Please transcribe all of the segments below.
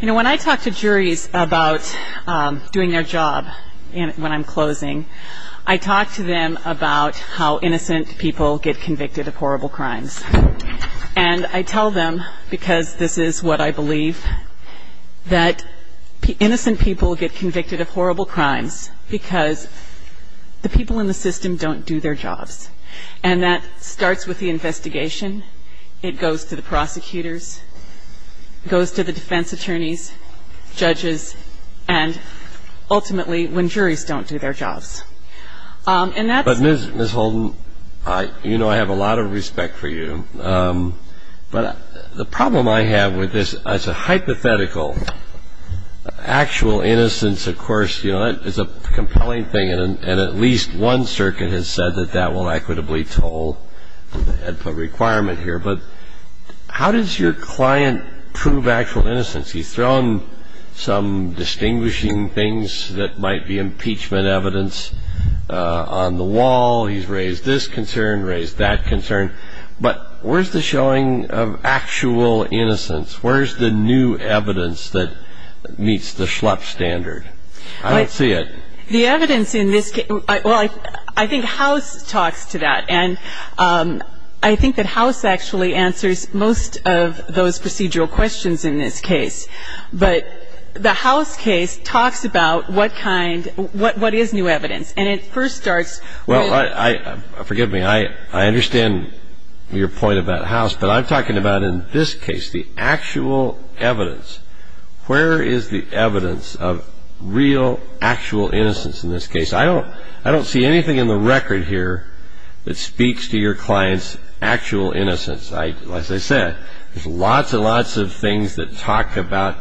When I talk to juries about doing their job when I'm closing, I talk to them about how innocent people get convicted of horrible crimes. And I tell them, because this is what I believe, that innocent people get convicted of horrible crimes because the people in the system don't do their jobs. And that starts with the investigation, it goes to the prosecutors, it goes to the defense attorneys, judges, and ultimately, when juries don't do their jobs. And that's... But, Ms. Holden, you know I have a lot of respect for you. But the problem I have with this, it's a hypothetical. Actual innocence, of course, is a compelling thing. And at least one circuit has said that that will equitably toll the requirement here. But how does your client prove actual innocence? He's thrown some distinguishing things that might be impeachment evidence on the wall. He's raised this concern, raised that concern. But where's the showing of actual innocence? Where's the new evidence that meets the Schlepp standard? I don't see it. The evidence in this case, well, I think House talks to that. And I think that House actually answers most of those procedural questions in this case. But the House case talks about what kind, what is new evidence. And it first starts with... Well, forgive me, I understand your point about House. But I'm talking about in this case the actual evidence. Where is the evidence of real, actual innocence in this case? I don't see anything in the record here that speaks to your client's actual innocence. As I said, there's lots and lots of things that talk about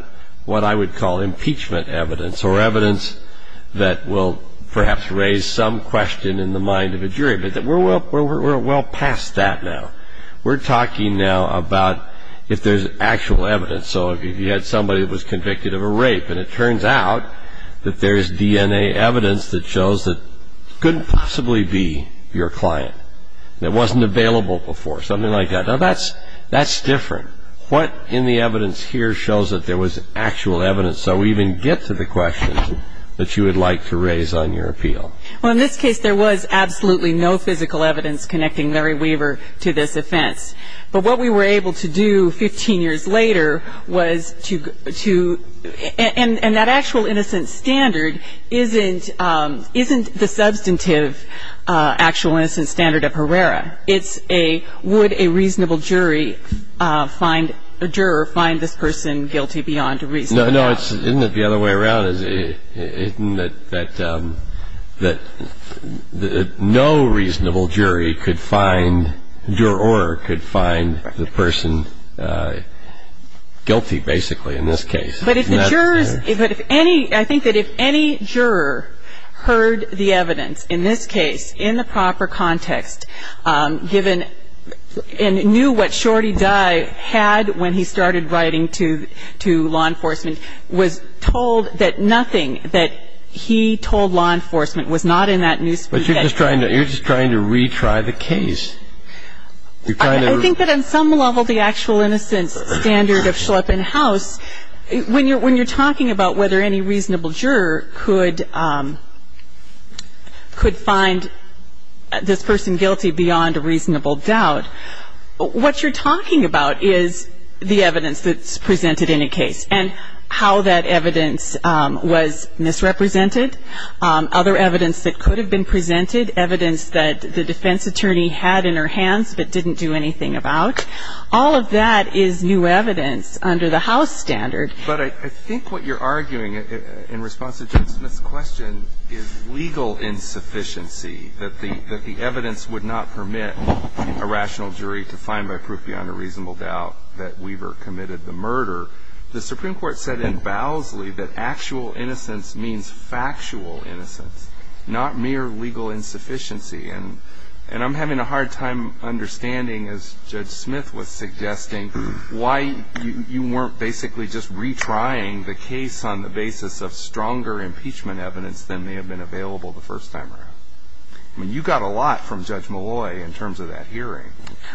what I would call impeachment evidence or evidence that will perhaps raise some question in the mind of a jury. But we're well past that now. We're talking now about if there's actual evidence. So if you had somebody that was convicted of a rape and it turns out that there's DNA evidence that shows that it couldn't possibly be your client. It wasn't available before, something like that. Now, that's different. What in the evidence here shows that there was actual evidence? So we even get to the questions that you would like to raise on your appeal. Well, in this case there was absolutely no physical evidence connecting Mary Weaver to this offense. But what we were able to do 15 years later was to... And that actual innocent standard isn't the substantive actual innocent standard of Herrera. It's a would a reasonable jury find... A juror find this person guilty beyond a reasonable doubt. No, no, isn't it the other way around? Isn't it that no reasonable jury could find... Juror could find the person guilty basically in this case. But if the jurors... I think that if any juror heard the evidence in this case in the proper context and knew what Shorty Dye had when he started writing to law enforcement, was told that nothing that he told law enforcement was not in that newspaper... But you're just trying to retry the case. I think that on some level the actual innocent standard of Schleppenhaus... When you're talking about whether any reasonable juror could find this person guilty beyond a reasonable doubt, what you're talking about is the evidence that's presented in a case and how that evidence was misrepresented, other evidence that could have been presented, evidence that the defense attorney had in her hands but didn't do anything about. All of that is new evidence under the House standard. But I think what you're arguing in response to Judge Smith's question is legal insufficiency, that the evidence would not permit a rational jury to find by proof beyond a reasonable doubt that Weaver committed the murder. The Supreme Court said in Bowlesley that actual innocence means factual innocence, not mere legal insufficiency. And I'm having a hard time understanding, as Judge Smith was suggesting, why you weren't basically just retrying the case on the basis of stronger impeachment evidence than may have been available the first time around. I mean, you got a lot from Judge Malloy in terms of that hearing.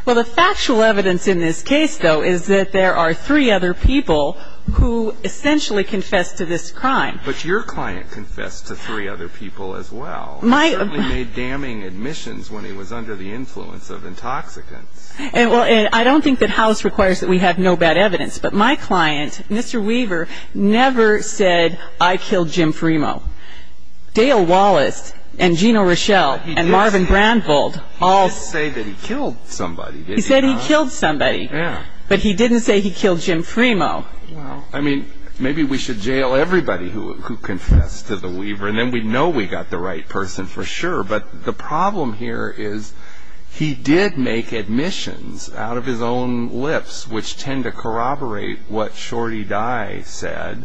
Well, the factual evidence in this case, though, is that there are three other people who essentially confessed to this crime. But your client confessed to three other people as well. He certainly made damning admissions when he was under the influence of intoxicants. I don't think that House requires that we have no bad evidence, but my client, Mr. Weaver, never said, I killed Jim Fremo. Dale Wallace and Gina Rochelle and Marvin Brandvold all said he killed somebody. He said he killed somebody, but he didn't say he killed Jim Fremo. I mean, maybe we should jail everybody who confessed to the Weaver, and then we'd know we got the right person for sure. But the problem here is he did make admissions out of his own lips, which tend to corroborate what Shorty Dye said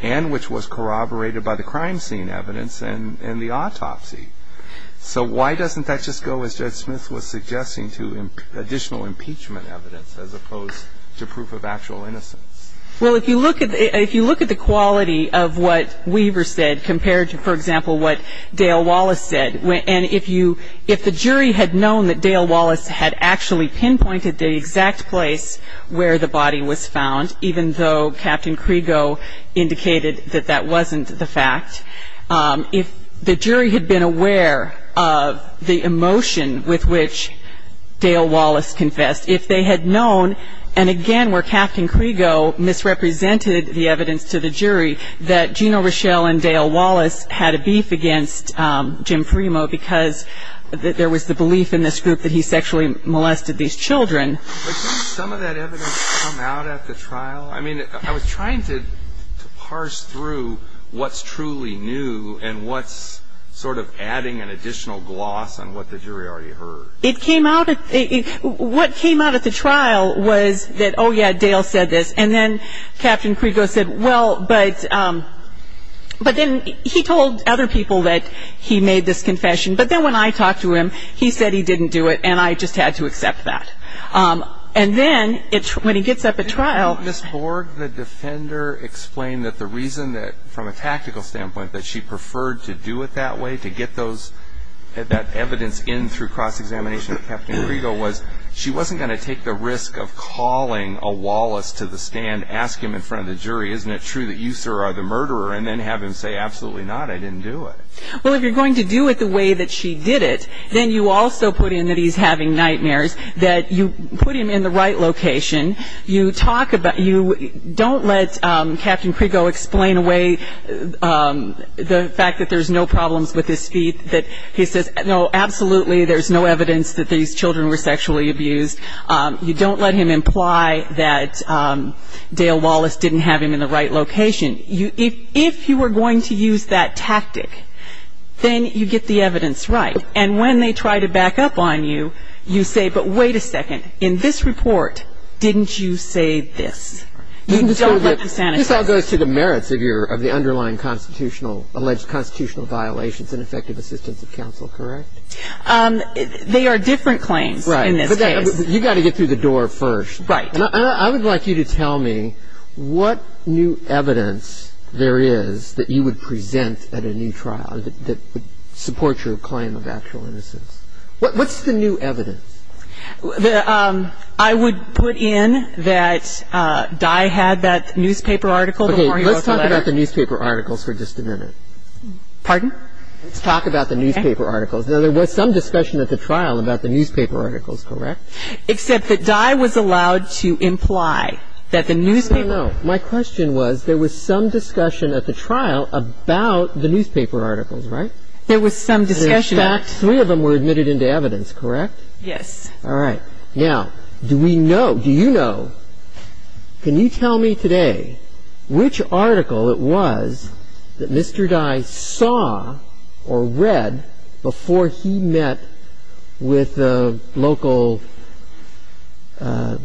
and which was corroborated by the crime scene evidence and the autopsy. So why doesn't that just go, as Judge Smith was suggesting, to additional impeachment evidence as opposed to proof of actual innocence? Well, if you look at the quality of what Weaver said compared to, for example, what Dale Wallace said, and if the jury had known that Dale Wallace had actually pinpointed the exact place where the body was found, even though Captain Krigo indicated that that wasn't the fact, if the jury had been aware of the emotion with which Dale Wallace confessed, if they had known, and again where Captain Krigo misrepresented the evidence to the jury, that Gina Rochelle and Dale Wallace had a beef against Jim Fremo because there was the belief in this group that he sexually molested these children. But didn't some of that evidence come out at the trial? I mean, I was trying to parse through what's truly new and what's sort of adding an additional gloss on what the jury already heard. What came out at the trial was that, oh, yeah, Dale said this. And then Captain Krigo said, well, but then he told other people that he made this confession. But then when I talked to him, he said he didn't do it, and I just had to accept that. And then when he gets up at trial – Ms. Borg, the defender, explained that the reason that, from a tactical standpoint, that she preferred to do it that way, to get that evidence in through cross-examination with Captain Krigo, was she wasn't going to take the risk of calling a Wallace to the stand, ask him in front of the jury, isn't it true that you, sir, are the murderer, and then have him say, absolutely not, I didn't do it. Well, if you're going to do it the way that she did it, then you also put in that he's having nightmares, that you put him in the right location. You talk about – you don't let Captain Krigo explain away the fact that there's no problems with his speech, that he says, no, absolutely, there's no evidence that these children were sexually abused. You don't let him imply that Dale Wallace didn't have him in the right location. If you were going to use that tactic, then you get the evidence right. And when they try to back up on you, you say, but wait a second, in this report, didn't you say this? You don't let them sanitize. This all goes to the merits of the underlying constitutional – alleged constitutional violations and effective assistance of counsel, correct? They are different claims in this case. Right, but you've got to get through the door first. Right. I would like you to tell me what new evidence there is that you would present at a new trial that would support your claim of actual innocence. What's the new evidence? I would put in that Dye had that newspaper article before he wrote the letter. Okay, let's talk about the newspaper articles for just a minute. Pardon? Let's talk about the newspaper articles. Now, there was some discussion at the trial about the newspaper articles, correct? Except that Dye was allowed to imply that the newspaper – I don't know. My question was there was some discussion at the trial about the newspaper articles, right? There was some discussion – In fact, three of them were admitted into evidence, correct? Yes. All right. Now, do we know – do you know – can you tell me today which article it was that Mr. Dye saw or read before he met with the local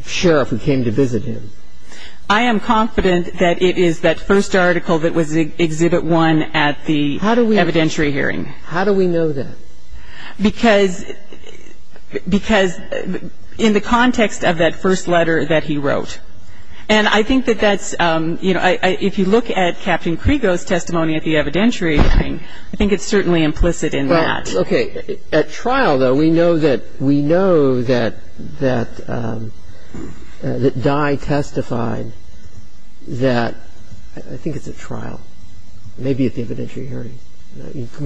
sheriff who came to visit him? I am confident that it is that first article that was Exhibit 1 at the evidentiary hearing. How do we know that? Because in the context of that first letter that he wrote. And I think that that's – if you look at Captain Krigo's testimony at the evidentiary hearing, I think it's certainly implicit in that. Okay. At trial, though, we know that Dye testified that – I think it's at trial. Maybe at the evidentiary hearing.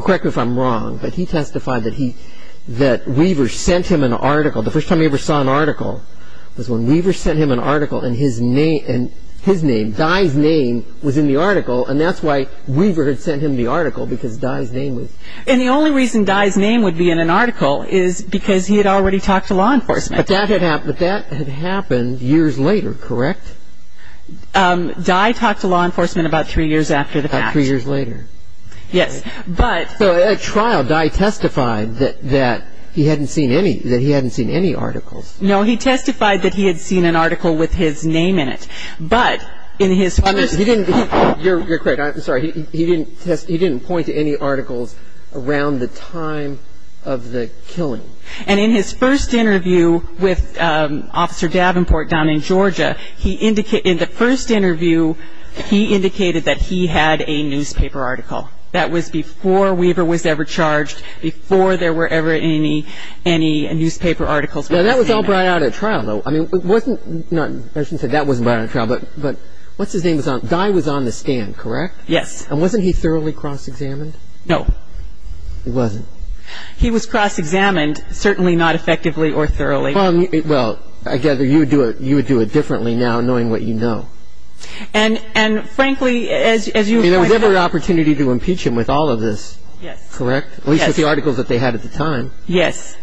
Correct me if I'm wrong, but he testified that Weaver sent him an article. The first time he ever saw an article was when Weaver sent him an article and his name – Dye's name was in the article, and that's why Weaver had sent him the article, because Dye's name was – And the only reason Dye's name would be in an article is because he had already talked to law enforcement. But that had happened years later, correct? Dye talked to law enforcement about three years after the fact. About three years later. Yes, but – So at trial, Dye testified that he hadn't seen any articles. No, he testified that he had seen an article with his name in it, but in his first – You're correct. I'm sorry. He didn't point to any articles around the time of the killing. And in his first interview with Officer Davenport down in Georgia, he – in the first interview, he indicated that he had a newspaper article. That was before Weaver was ever charged, before there were ever any newspaper articles with his name in them. Well, that was all brought out at trial, though. I mean, it wasn't – I shouldn't say that wasn't brought out at trial, but – But he was a law enforcement officer, correct? Yes. And wasn't he thoroughly cross-examined? No. He wasn't. He was cross-examined, certainly not effectively or thoroughly. Well, I gather you would do it differently now, knowing what you know. And frankly, as you – I mean, there was never an opportunity to impeach him with all of this. Yes. Correct? Yes. At least with the articles that they had at the time. Yes.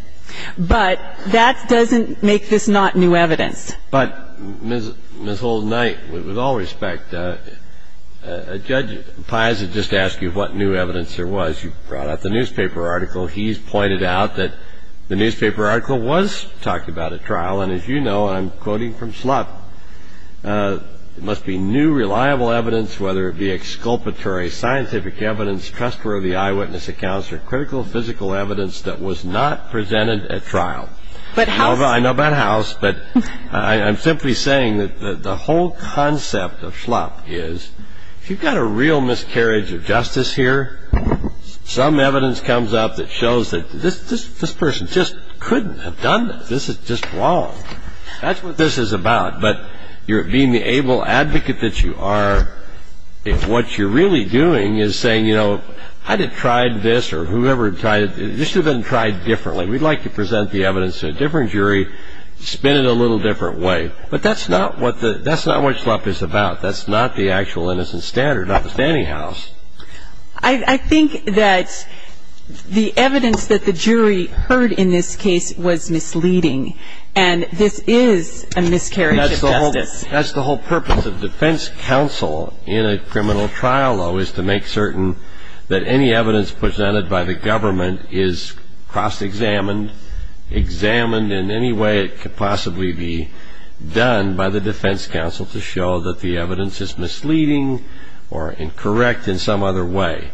But that doesn't make this not new evidence. But, Ms. Holden-Knight, with all respect, Judge Piazza just asked you what new evidence there was. You brought out the newspaper article. He's pointed out that the newspaper article was talked about at trial. And as you know, and I'm quoting from Schlupp, it must be new, reliable evidence, whether it be exculpatory, scientific evidence, trustworthy eyewitness accounts, or critical physical evidence that was not presented at trial. But House – I know about House, but I'm simply saying that the whole concept of Schlupp is, if you've got a real miscarriage of justice here, some evidence comes up that shows that this person just couldn't have done this. This is just wrong. That's what this is about. But being the able advocate that you are, if what you're really doing is saying, you know, I'd have tried this, or whoever tried it, this should have been tried differently. We'd like to present the evidence to a different jury, spin it a little different way. But that's not what the – that's not what Schlupp is about. That's not the actual innocent standard, not the standing house. I think that the evidence that the jury heard in this case was misleading, and this is a miscarriage of justice. That's the whole purpose of defense counsel in a criminal trial, though, is to make certain that any evidence presented by the government is cross-examined, examined in any way it could possibly be done by the defense counsel to show that the evidence is misleading or incorrect in some other way.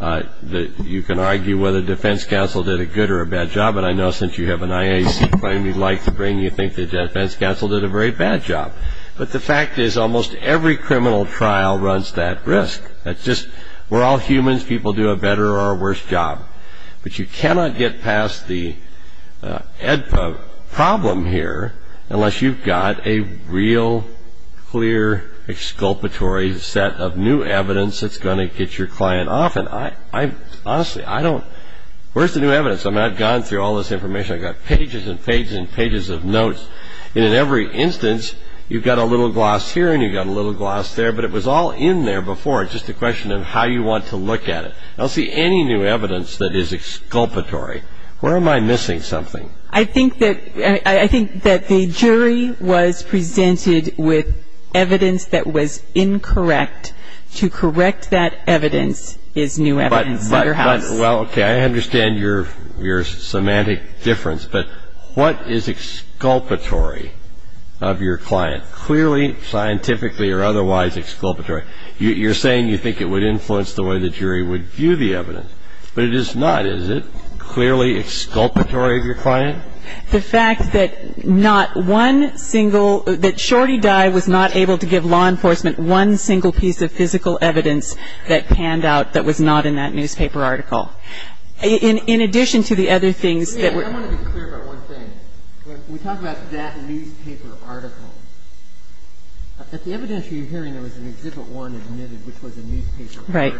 You can argue whether defense counsel did a good or a bad job, but I know since you have an IAC claim you'd like to bring, you think that defense counsel did a very bad job. But the fact is, almost every criminal trial runs that risk. That's just – we're all humans. People do a better or a worse job. But you cannot get past the AEDPA problem here unless you've got a real, clear, exculpatory set of new evidence that's going to get your client off. And I – honestly, I don't – where's the new evidence? I've gone through all this information. I've got pages and pages and pages of notes, and in every instance you've got a little gloss here and you've got a little gloss there, but it was all in there before. It's just a question of how you want to look at it. I don't see any new evidence that is exculpatory. Where am I missing something? I think that the jury was presented with evidence that was incorrect. To correct that evidence is new evidence. Well, okay, I understand your semantic difference, but what is exculpatory of your client? It's not clearly scientifically or otherwise exculpatory. You're saying you think it would influence the way the jury would view the evidence. But it is not, is it, clearly exculpatory of your client? The fact that not one single – that Shorty Dye was not able to give law enforcement one single piece of physical evidence that panned out that was not in that newspaper article. In addition to the other things that were – I want to be clear about one thing. When we talk about that newspaper article, at the evidence you're hearing there was an Exhibit 1 admitted, which was a newspaper article. Right.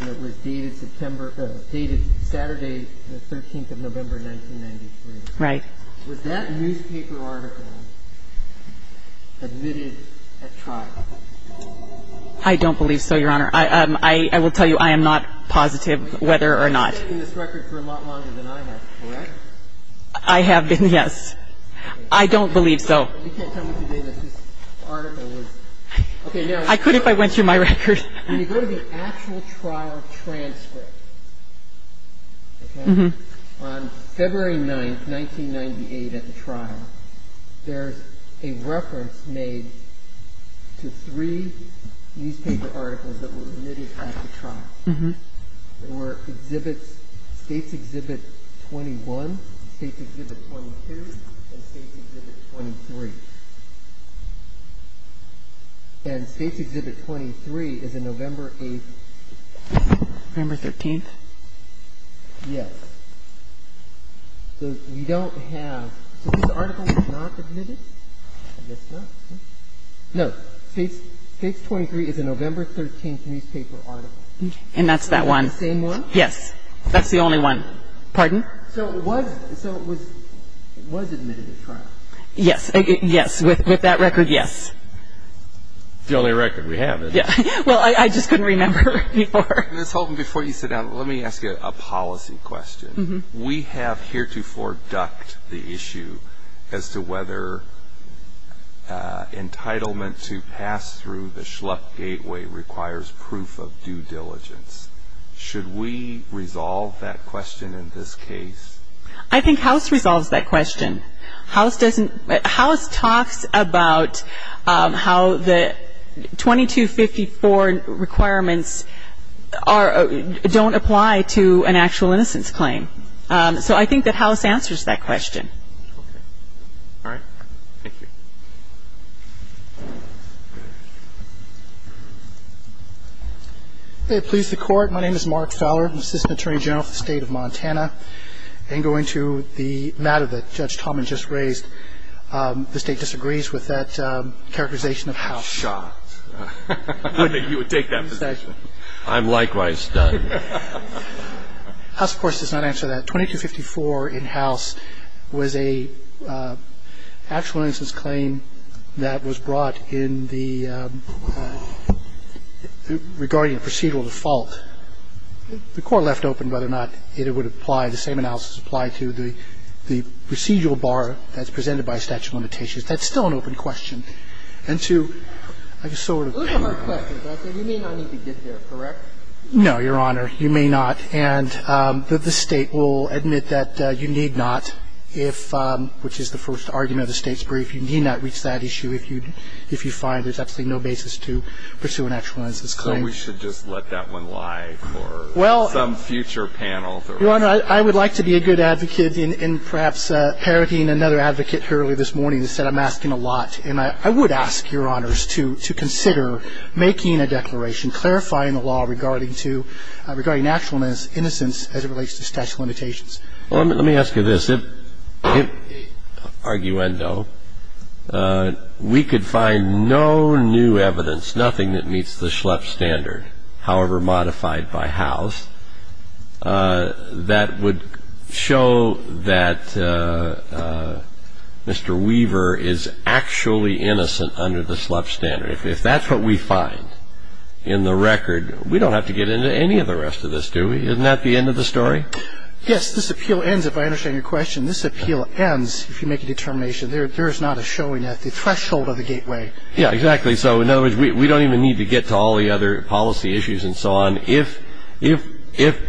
And it was dated Saturday, the 13th of November, 1993. Right. Was that newspaper article admitted at trial? I don't believe so, Your Honor. I will tell you I am not positive whether or not. You've been writing this record for a lot longer than I have, correct? I have been, yes. I don't believe so. You can't tell me today that this article was – I could if I went through my record. When you go to the actual trial transcript, okay, on February 9th, 1998 at the trial, there's a reference made to three newspaper articles that were admitted at the trial. There were Exhibits – States Exhibit 21, States Exhibit 22, and States Exhibit 23. And States Exhibit 23 is a November 8th. November 13th. Yes. So you don't have – so this article was not admitted? I guess not. No. States 23 is a November 13th newspaper article. And that's that one. The same one? Yes. That's the only one. Pardon? So it was – so it was admitted at trial? Yes. Yes. With that record, yes. It's the only record we have. Yeah. Well, I just couldn't remember any more. Ms. Holton, before you sit down, let me ask you a policy question. We have heretofore ducked the issue as to whether entitlement to pass through the Schlupp Gateway requires proof of due diligence. Should we resolve that question in this case? I think House resolves that question. House talks about how the 2254 requirements don't apply to an actual innocence claim. So I think that House answers that question. Okay. All right. Thank you. May it please the Court. My name is Mark Fowler. I'm Assistant Attorney General for the State of Montana. I'm going to the matter that Judge Talman just raised. The State disagrees with that characterization of House. Shot. I knew you would take that position. I'm likewise stunned. House, of course, does not answer that. The 2254 in House was an actual innocence claim that was brought in the regarding a procedural default. The Court left open whether or not it would apply, the same analysis apply to the procedural bar that's presented by statute of limitations. That's still an open question. And to, like, sort of ---- Those are hard questions. You may not need to get there, correct? No, Your Honor. You may not. And the State will admit that you need not, which is the first argument of the State's brief, you need not reach that issue if you find there's absolutely no basis to pursue an actual innocence claim. So we should just let that one lie for some future panel. Your Honor, I would like to be a good advocate in perhaps parroting another advocate earlier this morning who said I'm asking a lot. And I would ask Your Honors to consider making a declaration clarifying the law regarding actual innocence as it relates to statute of limitations. Well, let me ask you this. If, arguendo, we could find no new evidence, nothing that meets the Schlepp standard, however modified by House, that would show that Mr. Weaver is actually innocent under the Schlepp standard. If that's what we find in the record, we don't have to get into any of the rest of this, do we? Isn't that the end of the story? Yes, this appeal ends, if I understand your question. This appeal ends if you make a determination. There is not a showing at the threshold of the gateway. Yeah, exactly. So in other words, we don't even need to get to all the other policy issues and so on. If,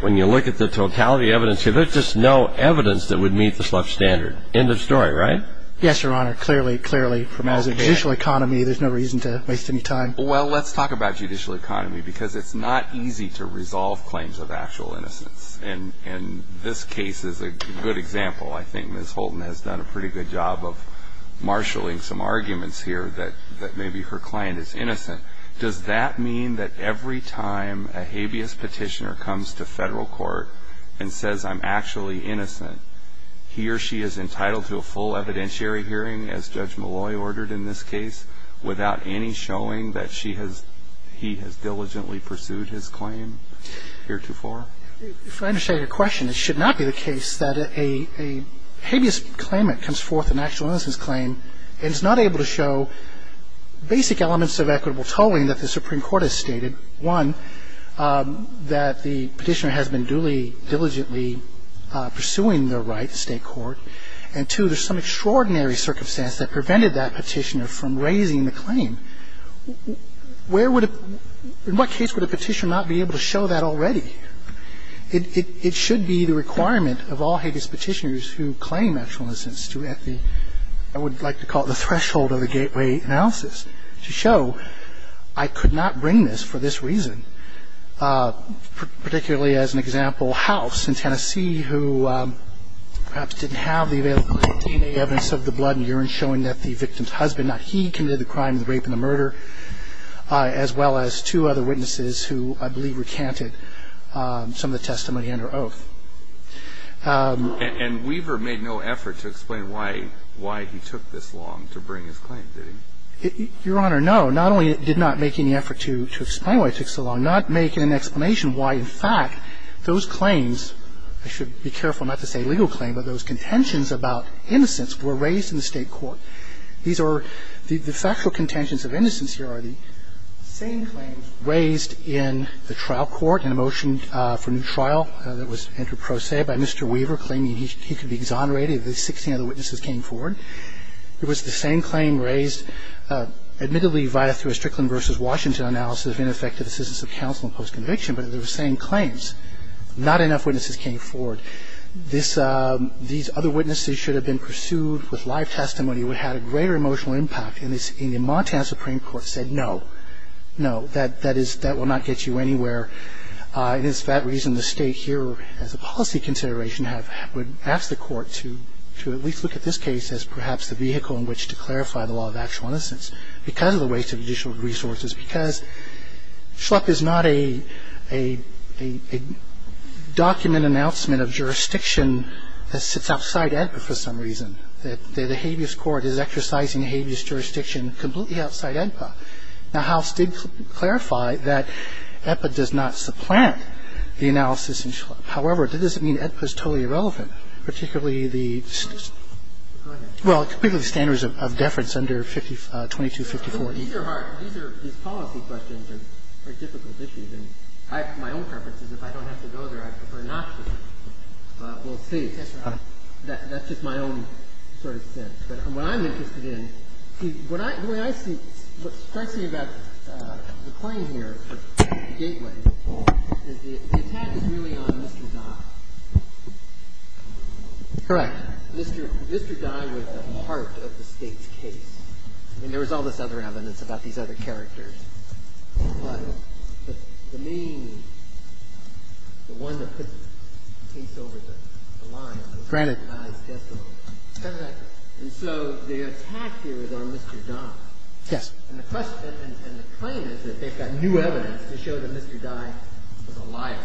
when you look at the totality of the evidence, there's just no evidence that would meet the Schlepp standard. End of story, right? Yes, Your Honor. Clearly, clearly, as a judicial economy, there's no reason to waste any time. Well, let's talk about judicial economy because it's not easy to resolve claims of actual innocence. And this case is a good example. I think Ms. Holton has done a pretty good job of marshalling some arguments here that maybe her client is innocent. Does that mean that every time a habeas petitioner comes to federal court and says, I'm actually innocent, he or she is entitled to a full evidentiary hearing, as Judge Malloy ordered in this case, without any showing that he has diligently pursued his claim heretofore? If I understand your question, it should not be the case that a habeas claimant comes forth an actual innocence claim and is not able to show basic elements of equitable tolling that the Supreme Court has stated. One, that the petitioner has been duly, diligently pursuing their right to stay in court. And two, there's some extraordinary circumstance that prevented that petitioner from raising the claim. Where would a – in what case would a petitioner not be able to show that already? It should be the requirement of all habeas petitioners who claim actual innocence to have the – I would like to call it the threshold of the gateway analysis to show I could not bring this for this reason. Particularly as an example, House in Tennessee, who perhaps didn't have the available DNA evidence of the blood and urine showing that the victim's husband, not he, committed the crime, the rape and the murder, as well as two other witnesses who I believe recanted some of the testimony under oath. And Weaver made no effort to explain why he took this long to bring his claim, did he? Your Honor, no. Not only did not make any effort to explain why it took so long, not make an explanation why, in fact, those claims – I should be careful not to say legal claim, but those contentions about innocence were raised in the State court. These are – the factual contentions of innocence here are the same claim raised in the trial court in a motion for new trial that was entered pro se by Mr. Weaver claiming he could be exonerated if the 16 other witnesses came forward. It was the same claim raised, admittedly via a Strickland v. Washington analysis of ineffective assistance of counsel in post-conviction, but they were the same claims. Not enough witnesses came forward. These other witnesses should have been pursued with live testimony. It would have had a greater emotional impact. And the Montana Supreme Court said no, no, that will not get you anywhere. It is for that reason the State here, as a policy consideration, would ask the Court to at least look at this case as perhaps the vehicle in which to clarify the law of actual innocence because of the waste of judicial resources, because Schlepp is not a document announcement of jurisdiction that sits outside AEDPA for some reason, that the habeas court is exercising habeas jurisdiction completely outside AEDPA. Now, House did clarify that AEDPA does not supplant the analysis in Schlepp. However, that doesn't mean AEDPA is totally irrelevant, particularly the standards of deference under 2254e. These are hard. These policy questions are difficult issues. My own preference is if I don't have to go there, I prefer not to. But we'll see. That's just my own sort of sense. But what I'm interested in, the way I see it, what strikes me about the claim here for Gateway is the attack is really on Mr. Dodd. Correct. Mr. Dodd was a part of the State's case. I mean, there was all this other evidence about these other characters. But the main one that puts the case over the line is the advised testimony. Granted. And so the attack here is on Mr. Dodd. Yes. And the claim is that they've got new evidence to show that Mr. Dodd was a liar,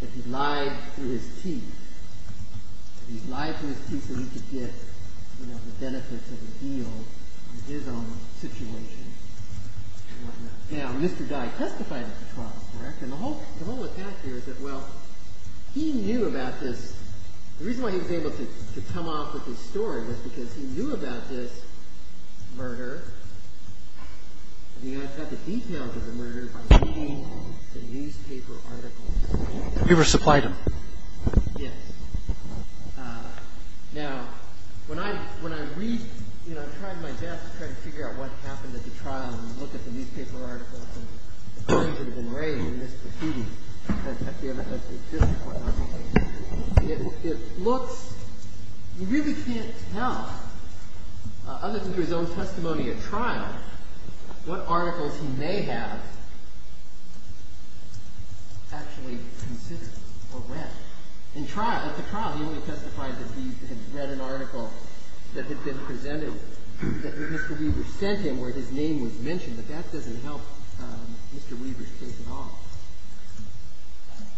that he lied through his teeth, that he lied through his teeth so he could get the benefits of the deal in his own situation and whatnot. Now, Mr. Dodd testified at the trial, correct? And the whole attack here is that, well, he knew about this. The reason why he was able to come off with this story was because he knew about this murder and he had the details of the murder by reading the newspaper articles. We were supplied them. Yes. Now, when I read, you know, I tried my best to try to figure out what happened at the trial and look at the newspaper articles and the claims that have been raised in this proceeding. It looks, you really can't tell, other than through his own testimony at trial, what articles he may have actually considered or read. At the trial, he only testified that he had read an article that had been presented to him by Mr. Weaver. And that was the only article that Mr. Weaver sent him where his name was mentioned, that that doesn't help Mr. Weaver's case at all.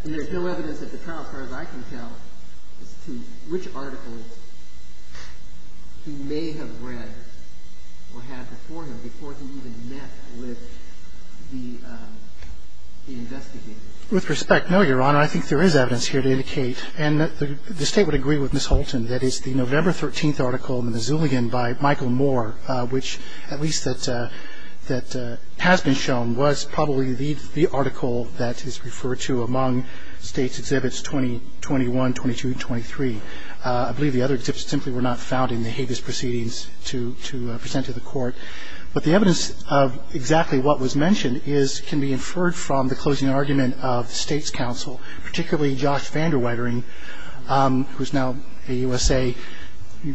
And there's no evidence at the trial, as far as I can tell, as to which articles he may have read or had before him, before he even met with the investigator. With respect, no, Your Honor. I think there is evidence here to indicate, and the State would agree with Ms. Holton, that it's the November 13th article in the Missoulian by Michael Moore, which at least that has been shown was probably the article that is referred to among State's exhibits 2021, 22, and 23. I believe the other exhibits simply were not found in the habeas proceedings to present to the Court. But the evidence of exactly what was mentioned can be inferred from the closing argument of the State's counsel, particularly Josh Vander Weitering, who is now a USA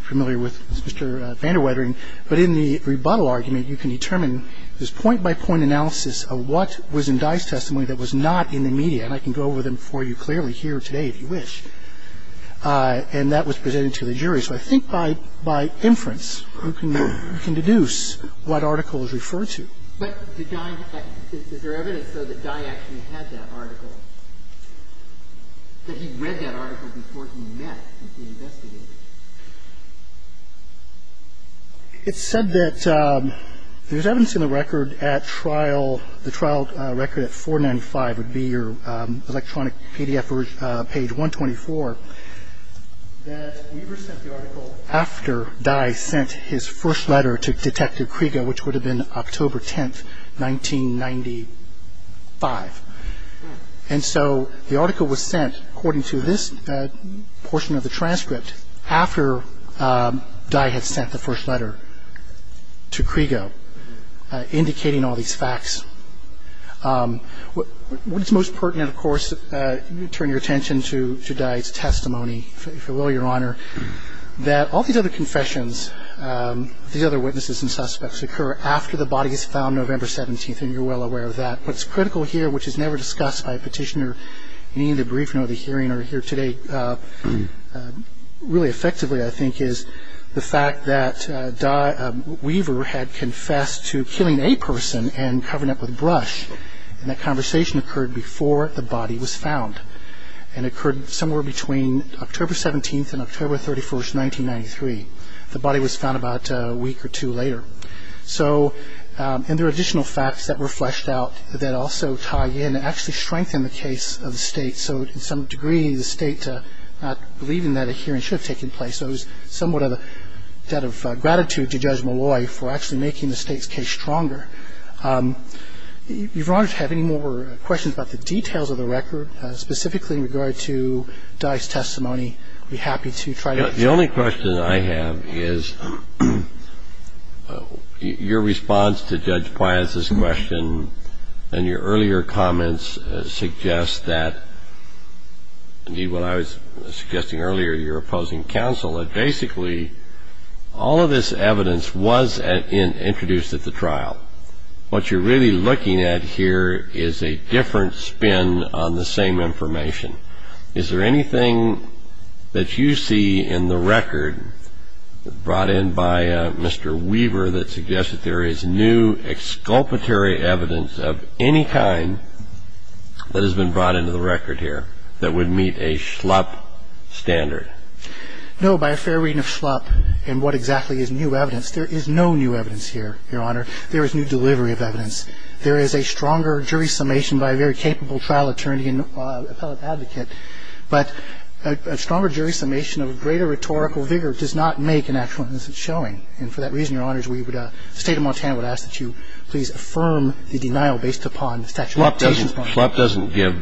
familiar with Mr. Vander Weitering. But in the rebuttal argument, you can determine this point-by-point analysis of what was in Dye's testimony that was not in the media. And I can go over them for you clearly here today, if you wish. And that was presented to the jury. So I think by inference, you can deduce what article is referred to. But did Dye – is there evidence, though, that Dye actually had that article, that he read that article before he met and he investigated it? It's said that there's evidence in the record at trial – the trial record at 495 would be your electronic PDF page 124 – that Weaver sent the article after Dye sent his first letter to Detective Krieger, which would have been October 10, 1995. And so the article was sent, according to this portion of the transcript, after Dye had sent the first letter to Krieger, indicating all these facts. What's most pertinent, of course, turn your attention to Dye's testimony, if you will, Your Honor, that all these other confessions, these other witnesses and suspects occur after the body is found November 17. And you're well aware of that. What's critical here, which is never discussed by a petitioner in any of the briefing or the hearing or here today, really effectively, I think, is the fact that Weaver had confessed to killing a person and covering it up with brush. And that conversation occurred before the body was found. And it occurred somewhere between October 17 and October 31, 1993. The body was found about a week or two later. And there are additional facts that were fleshed out that also tie in and actually strengthen the case of the State. So to some degree, the State not believing that a hearing should have taken place, so it was somewhat of a debt of gratitude to Judge Malloy for actually making the State's case stronger. Your Honor, if you have any more questions about the details of the record, specifically in regard to Dye's testimony, I'd be happy to try to answer them. The only question I have is your response to Judge Pius's question and your earlier comments suggest that, indeed, what I was suggesting earlier, your opposing counsel, all of this evidence was introduced at the trial. What you're really looking at here is a different spin on the same information. Is there anything that you see in the record brought in by Mr. Weaver that suggests that there is new exculpatory evidence of any kind that has been brought into the record here that would meet a schlup standard? No. By a fair reading of schlup and what exactly is new evidence, there is no new evidence here, Your Honor. There is new delivery of evidence. There is a stronger jury summation by a very capable trial attorney and appellate advocate, but a stronger jury summation of greater rhetorical vigor does not make an actual instance showing. And for that reason, Your Honors, we would – the State of Montana would ask that you please affirm the denial based upon the statute of limitations. Schlup doesn't give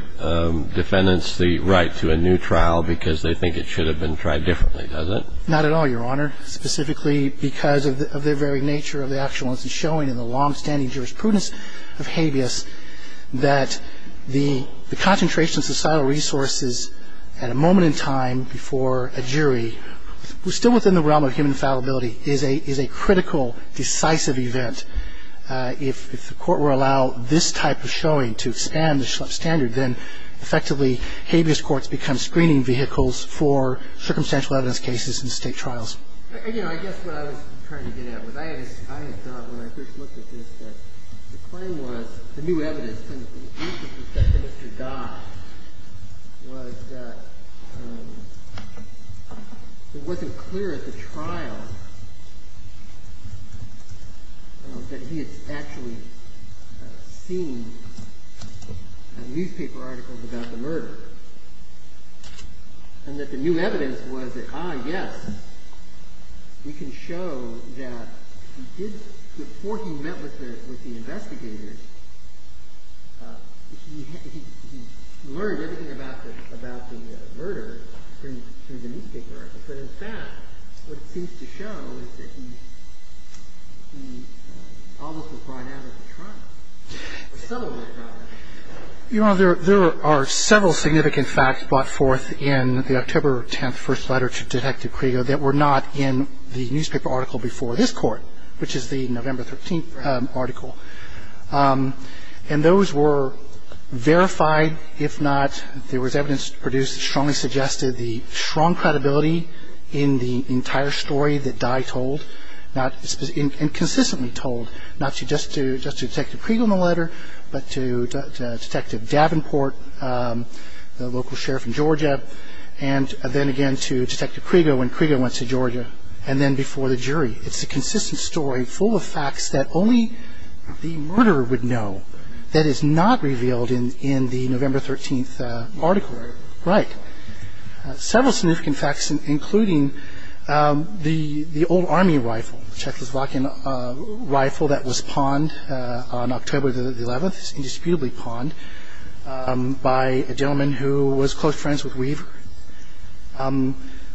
defendants the right to a new trial because they think it should have been tried differently, does it? Not at all, Your Honor. Specifically because of the very nature of the actual instance showing in the longstanding jurisprudence of habeas that the concentration of societal resources at a moment in time before a jury, still within the realm of human fallibility, is a critical, decisive event. If the Court were to allow this type of showing to expand the schlup standard, then effectively, habeas courts become screening vehicles for circumstantial evidence cases in State trials. You know, I guess what I was trying to get at was I had thought when I first looked at this that the claim was, the new evidence, and the use of the sentence to die, was that it wasn't clear at the trial that he had actually seen newspaper articles about the murder, and that the new evidence was that, ah, yes, we can show that he did, but in fact, what it seems to show is that he almost was brought out of the trial, or settled with the trial. Your Honor, there are several significant facts brought forth in the October 10th first letter to Detective Krigo that were not in the newspaper article before this Court, which is the November 13th article. And those were verified, if not, there was evidence produced that strongly suggested the strong credibility in the entire story that Dye told, and consistently told, not just to Detective Krigo in the letter, but to Detective Davenport, the local sheriff in Georgia, and then again to Detective Krigo when Krigo went to Georgia, and then before the jury. It's a consistent story full of facts that only the murderer would know, that is not revealed in the November 13th article. Right. Several significant facts, including the old army rifle, the Czechoslovakian rifle that was pawned on October the 11th, it was indisputably pawned by a gentleman who was close friends with Weaver.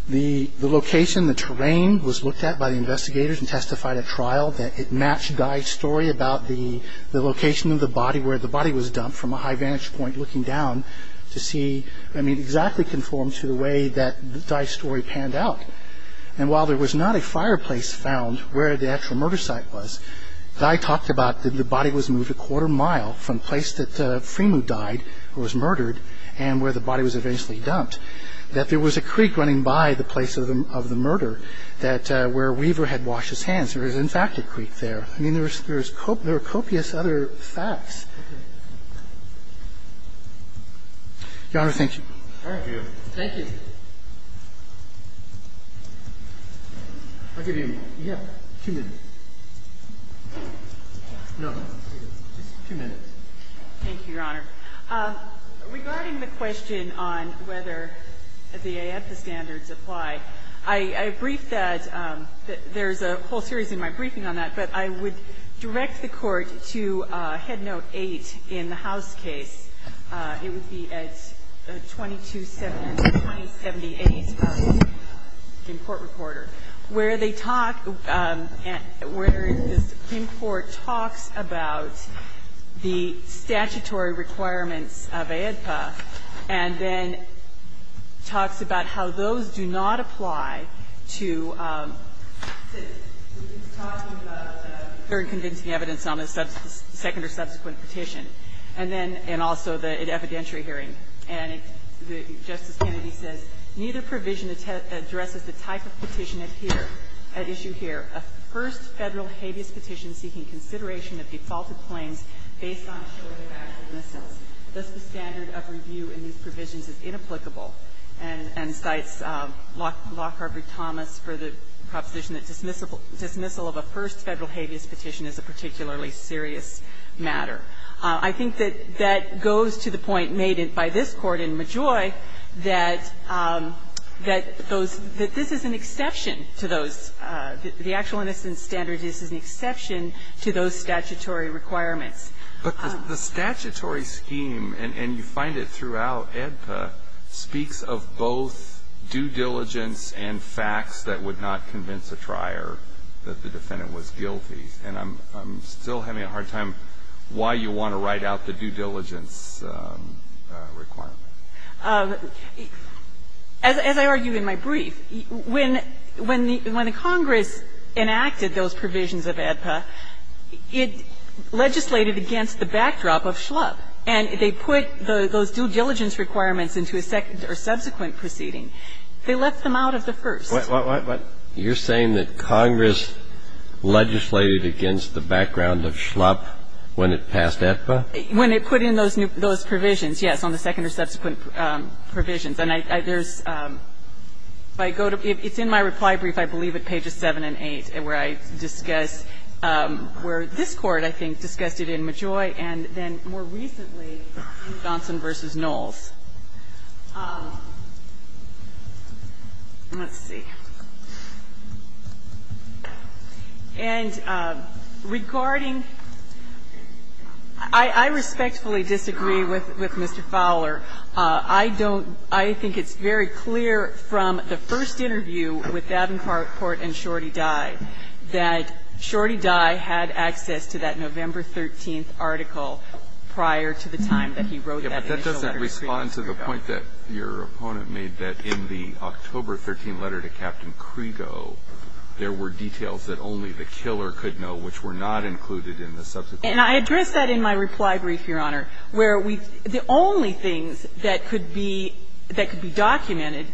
The location, the terrain was looked at by the investigators and testified at trial that it matched Dye's story about the location of the body where the body was dumped from a high vantage point looking down to see, I mean, exactly conformed to the way that Dye's story panned out. And while there was not a fireplace found where the actual murder site was, Dye talked about that the body was moved a quarter mile from the place that Freemu died, the place where the body was found, and that there was a creek running by the place of the murder that where Weaver had washed his hands. There is, in fact, a creek there. I mean, there are copious other facts. Your Honor, thank you. Thank you. I'll give you, yeah, two minutes. No, just two minutes. Thank you, Your Honor. Regarding the question on whether the AEPA standards apply, I briefed that there's a whole series in my briefing on that, but I would direct the Court to Headnote 8 in the House case. It would be at 2270, 2078. Where they talk, where the Supreme Court talks about the statutory requirements of AEPA, and then talks about how those do not apply to, it's talking about third convincing evidence on the second or subsequent petition. And then, and also the evidentiary hearing. And Justice Kennedy says, Neither provision addresses the type of petition at issue here. A first Federal habeas petition seeking consideration of defaulted claims based on short or valid dismissals. Thus, the standard of review in these provisions is inapplicable. And cites Lockhart v. Thomas for the proposition that dismissal of a first Federal habeas petition is a particularly serious matter. I think that that goes to the point made by this Court in Majoi that those, that this is an exception to those, the actual innocence standards, this is an exception to those statutory requirements. But the statutory scheme, and you find it throughout AEDPA, speaks of both due diligence and facts that would not convince a trier that the defendant was guilty. And I'm, I'm still having a hard time why you want to write out the due diligence requirement. As I argue in my brief, when, when the Congress enacted those provisions of AEDPA, it legislated against the backdrop of Schlupp. And they put those due diligence requirements into a second or subsequent proceeding. They left them out of the first. What, what, what, what? You're saying that Congress legislated against the background of Schlupp when it passed AEDPA? When it put in those new, those provisions, yes, on the second or subsequent provisions. And I, there's, if I go to, it's in my reply brief, I believe, at pages 7 and 8, where I discuss, where this Court, I think, discussed it in Majoi, and then more recently in Johnson v. Knowles. Let's see. And regarding, I, I respectfully disagree with, with Mr. Fowler. I don't, I think it's very clear from the first interview with Davenport and Shorty Dye that Shorty Dye had access to that November 13th article prior to the time that he wrote that initial letter to Schlupp. But I disagree. But your point is that the, that the, the original letter was, was in the October 13th article, and that in the October 13th letter to Captain Krego, there were details that only the killer could know, which were not included in the subsequent. And I addressed that in my reply brief, Your Honor, where we, the only things that could be, that could be documented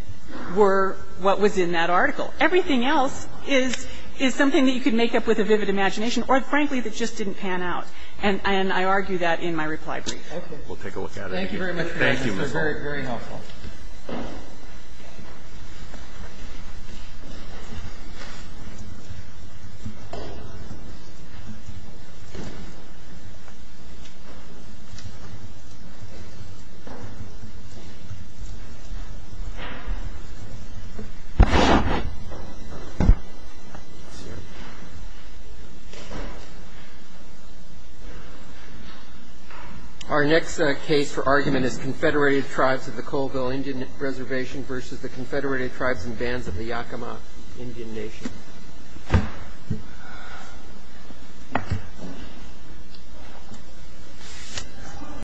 were what was in that article. Everything else is, is something that you could make up with a vivid imagination or, frankly, that just didn't pan out. And, and I argue that in my reply brief. Roberts. We'll take a look at it. Thank you very much. Thank you. It was very, very helpful. Our next case for argument is Confederated Tribes of the Colville. Indian Reservation versus the Confederated Tribes and Bands of the Yakama Indian Nation.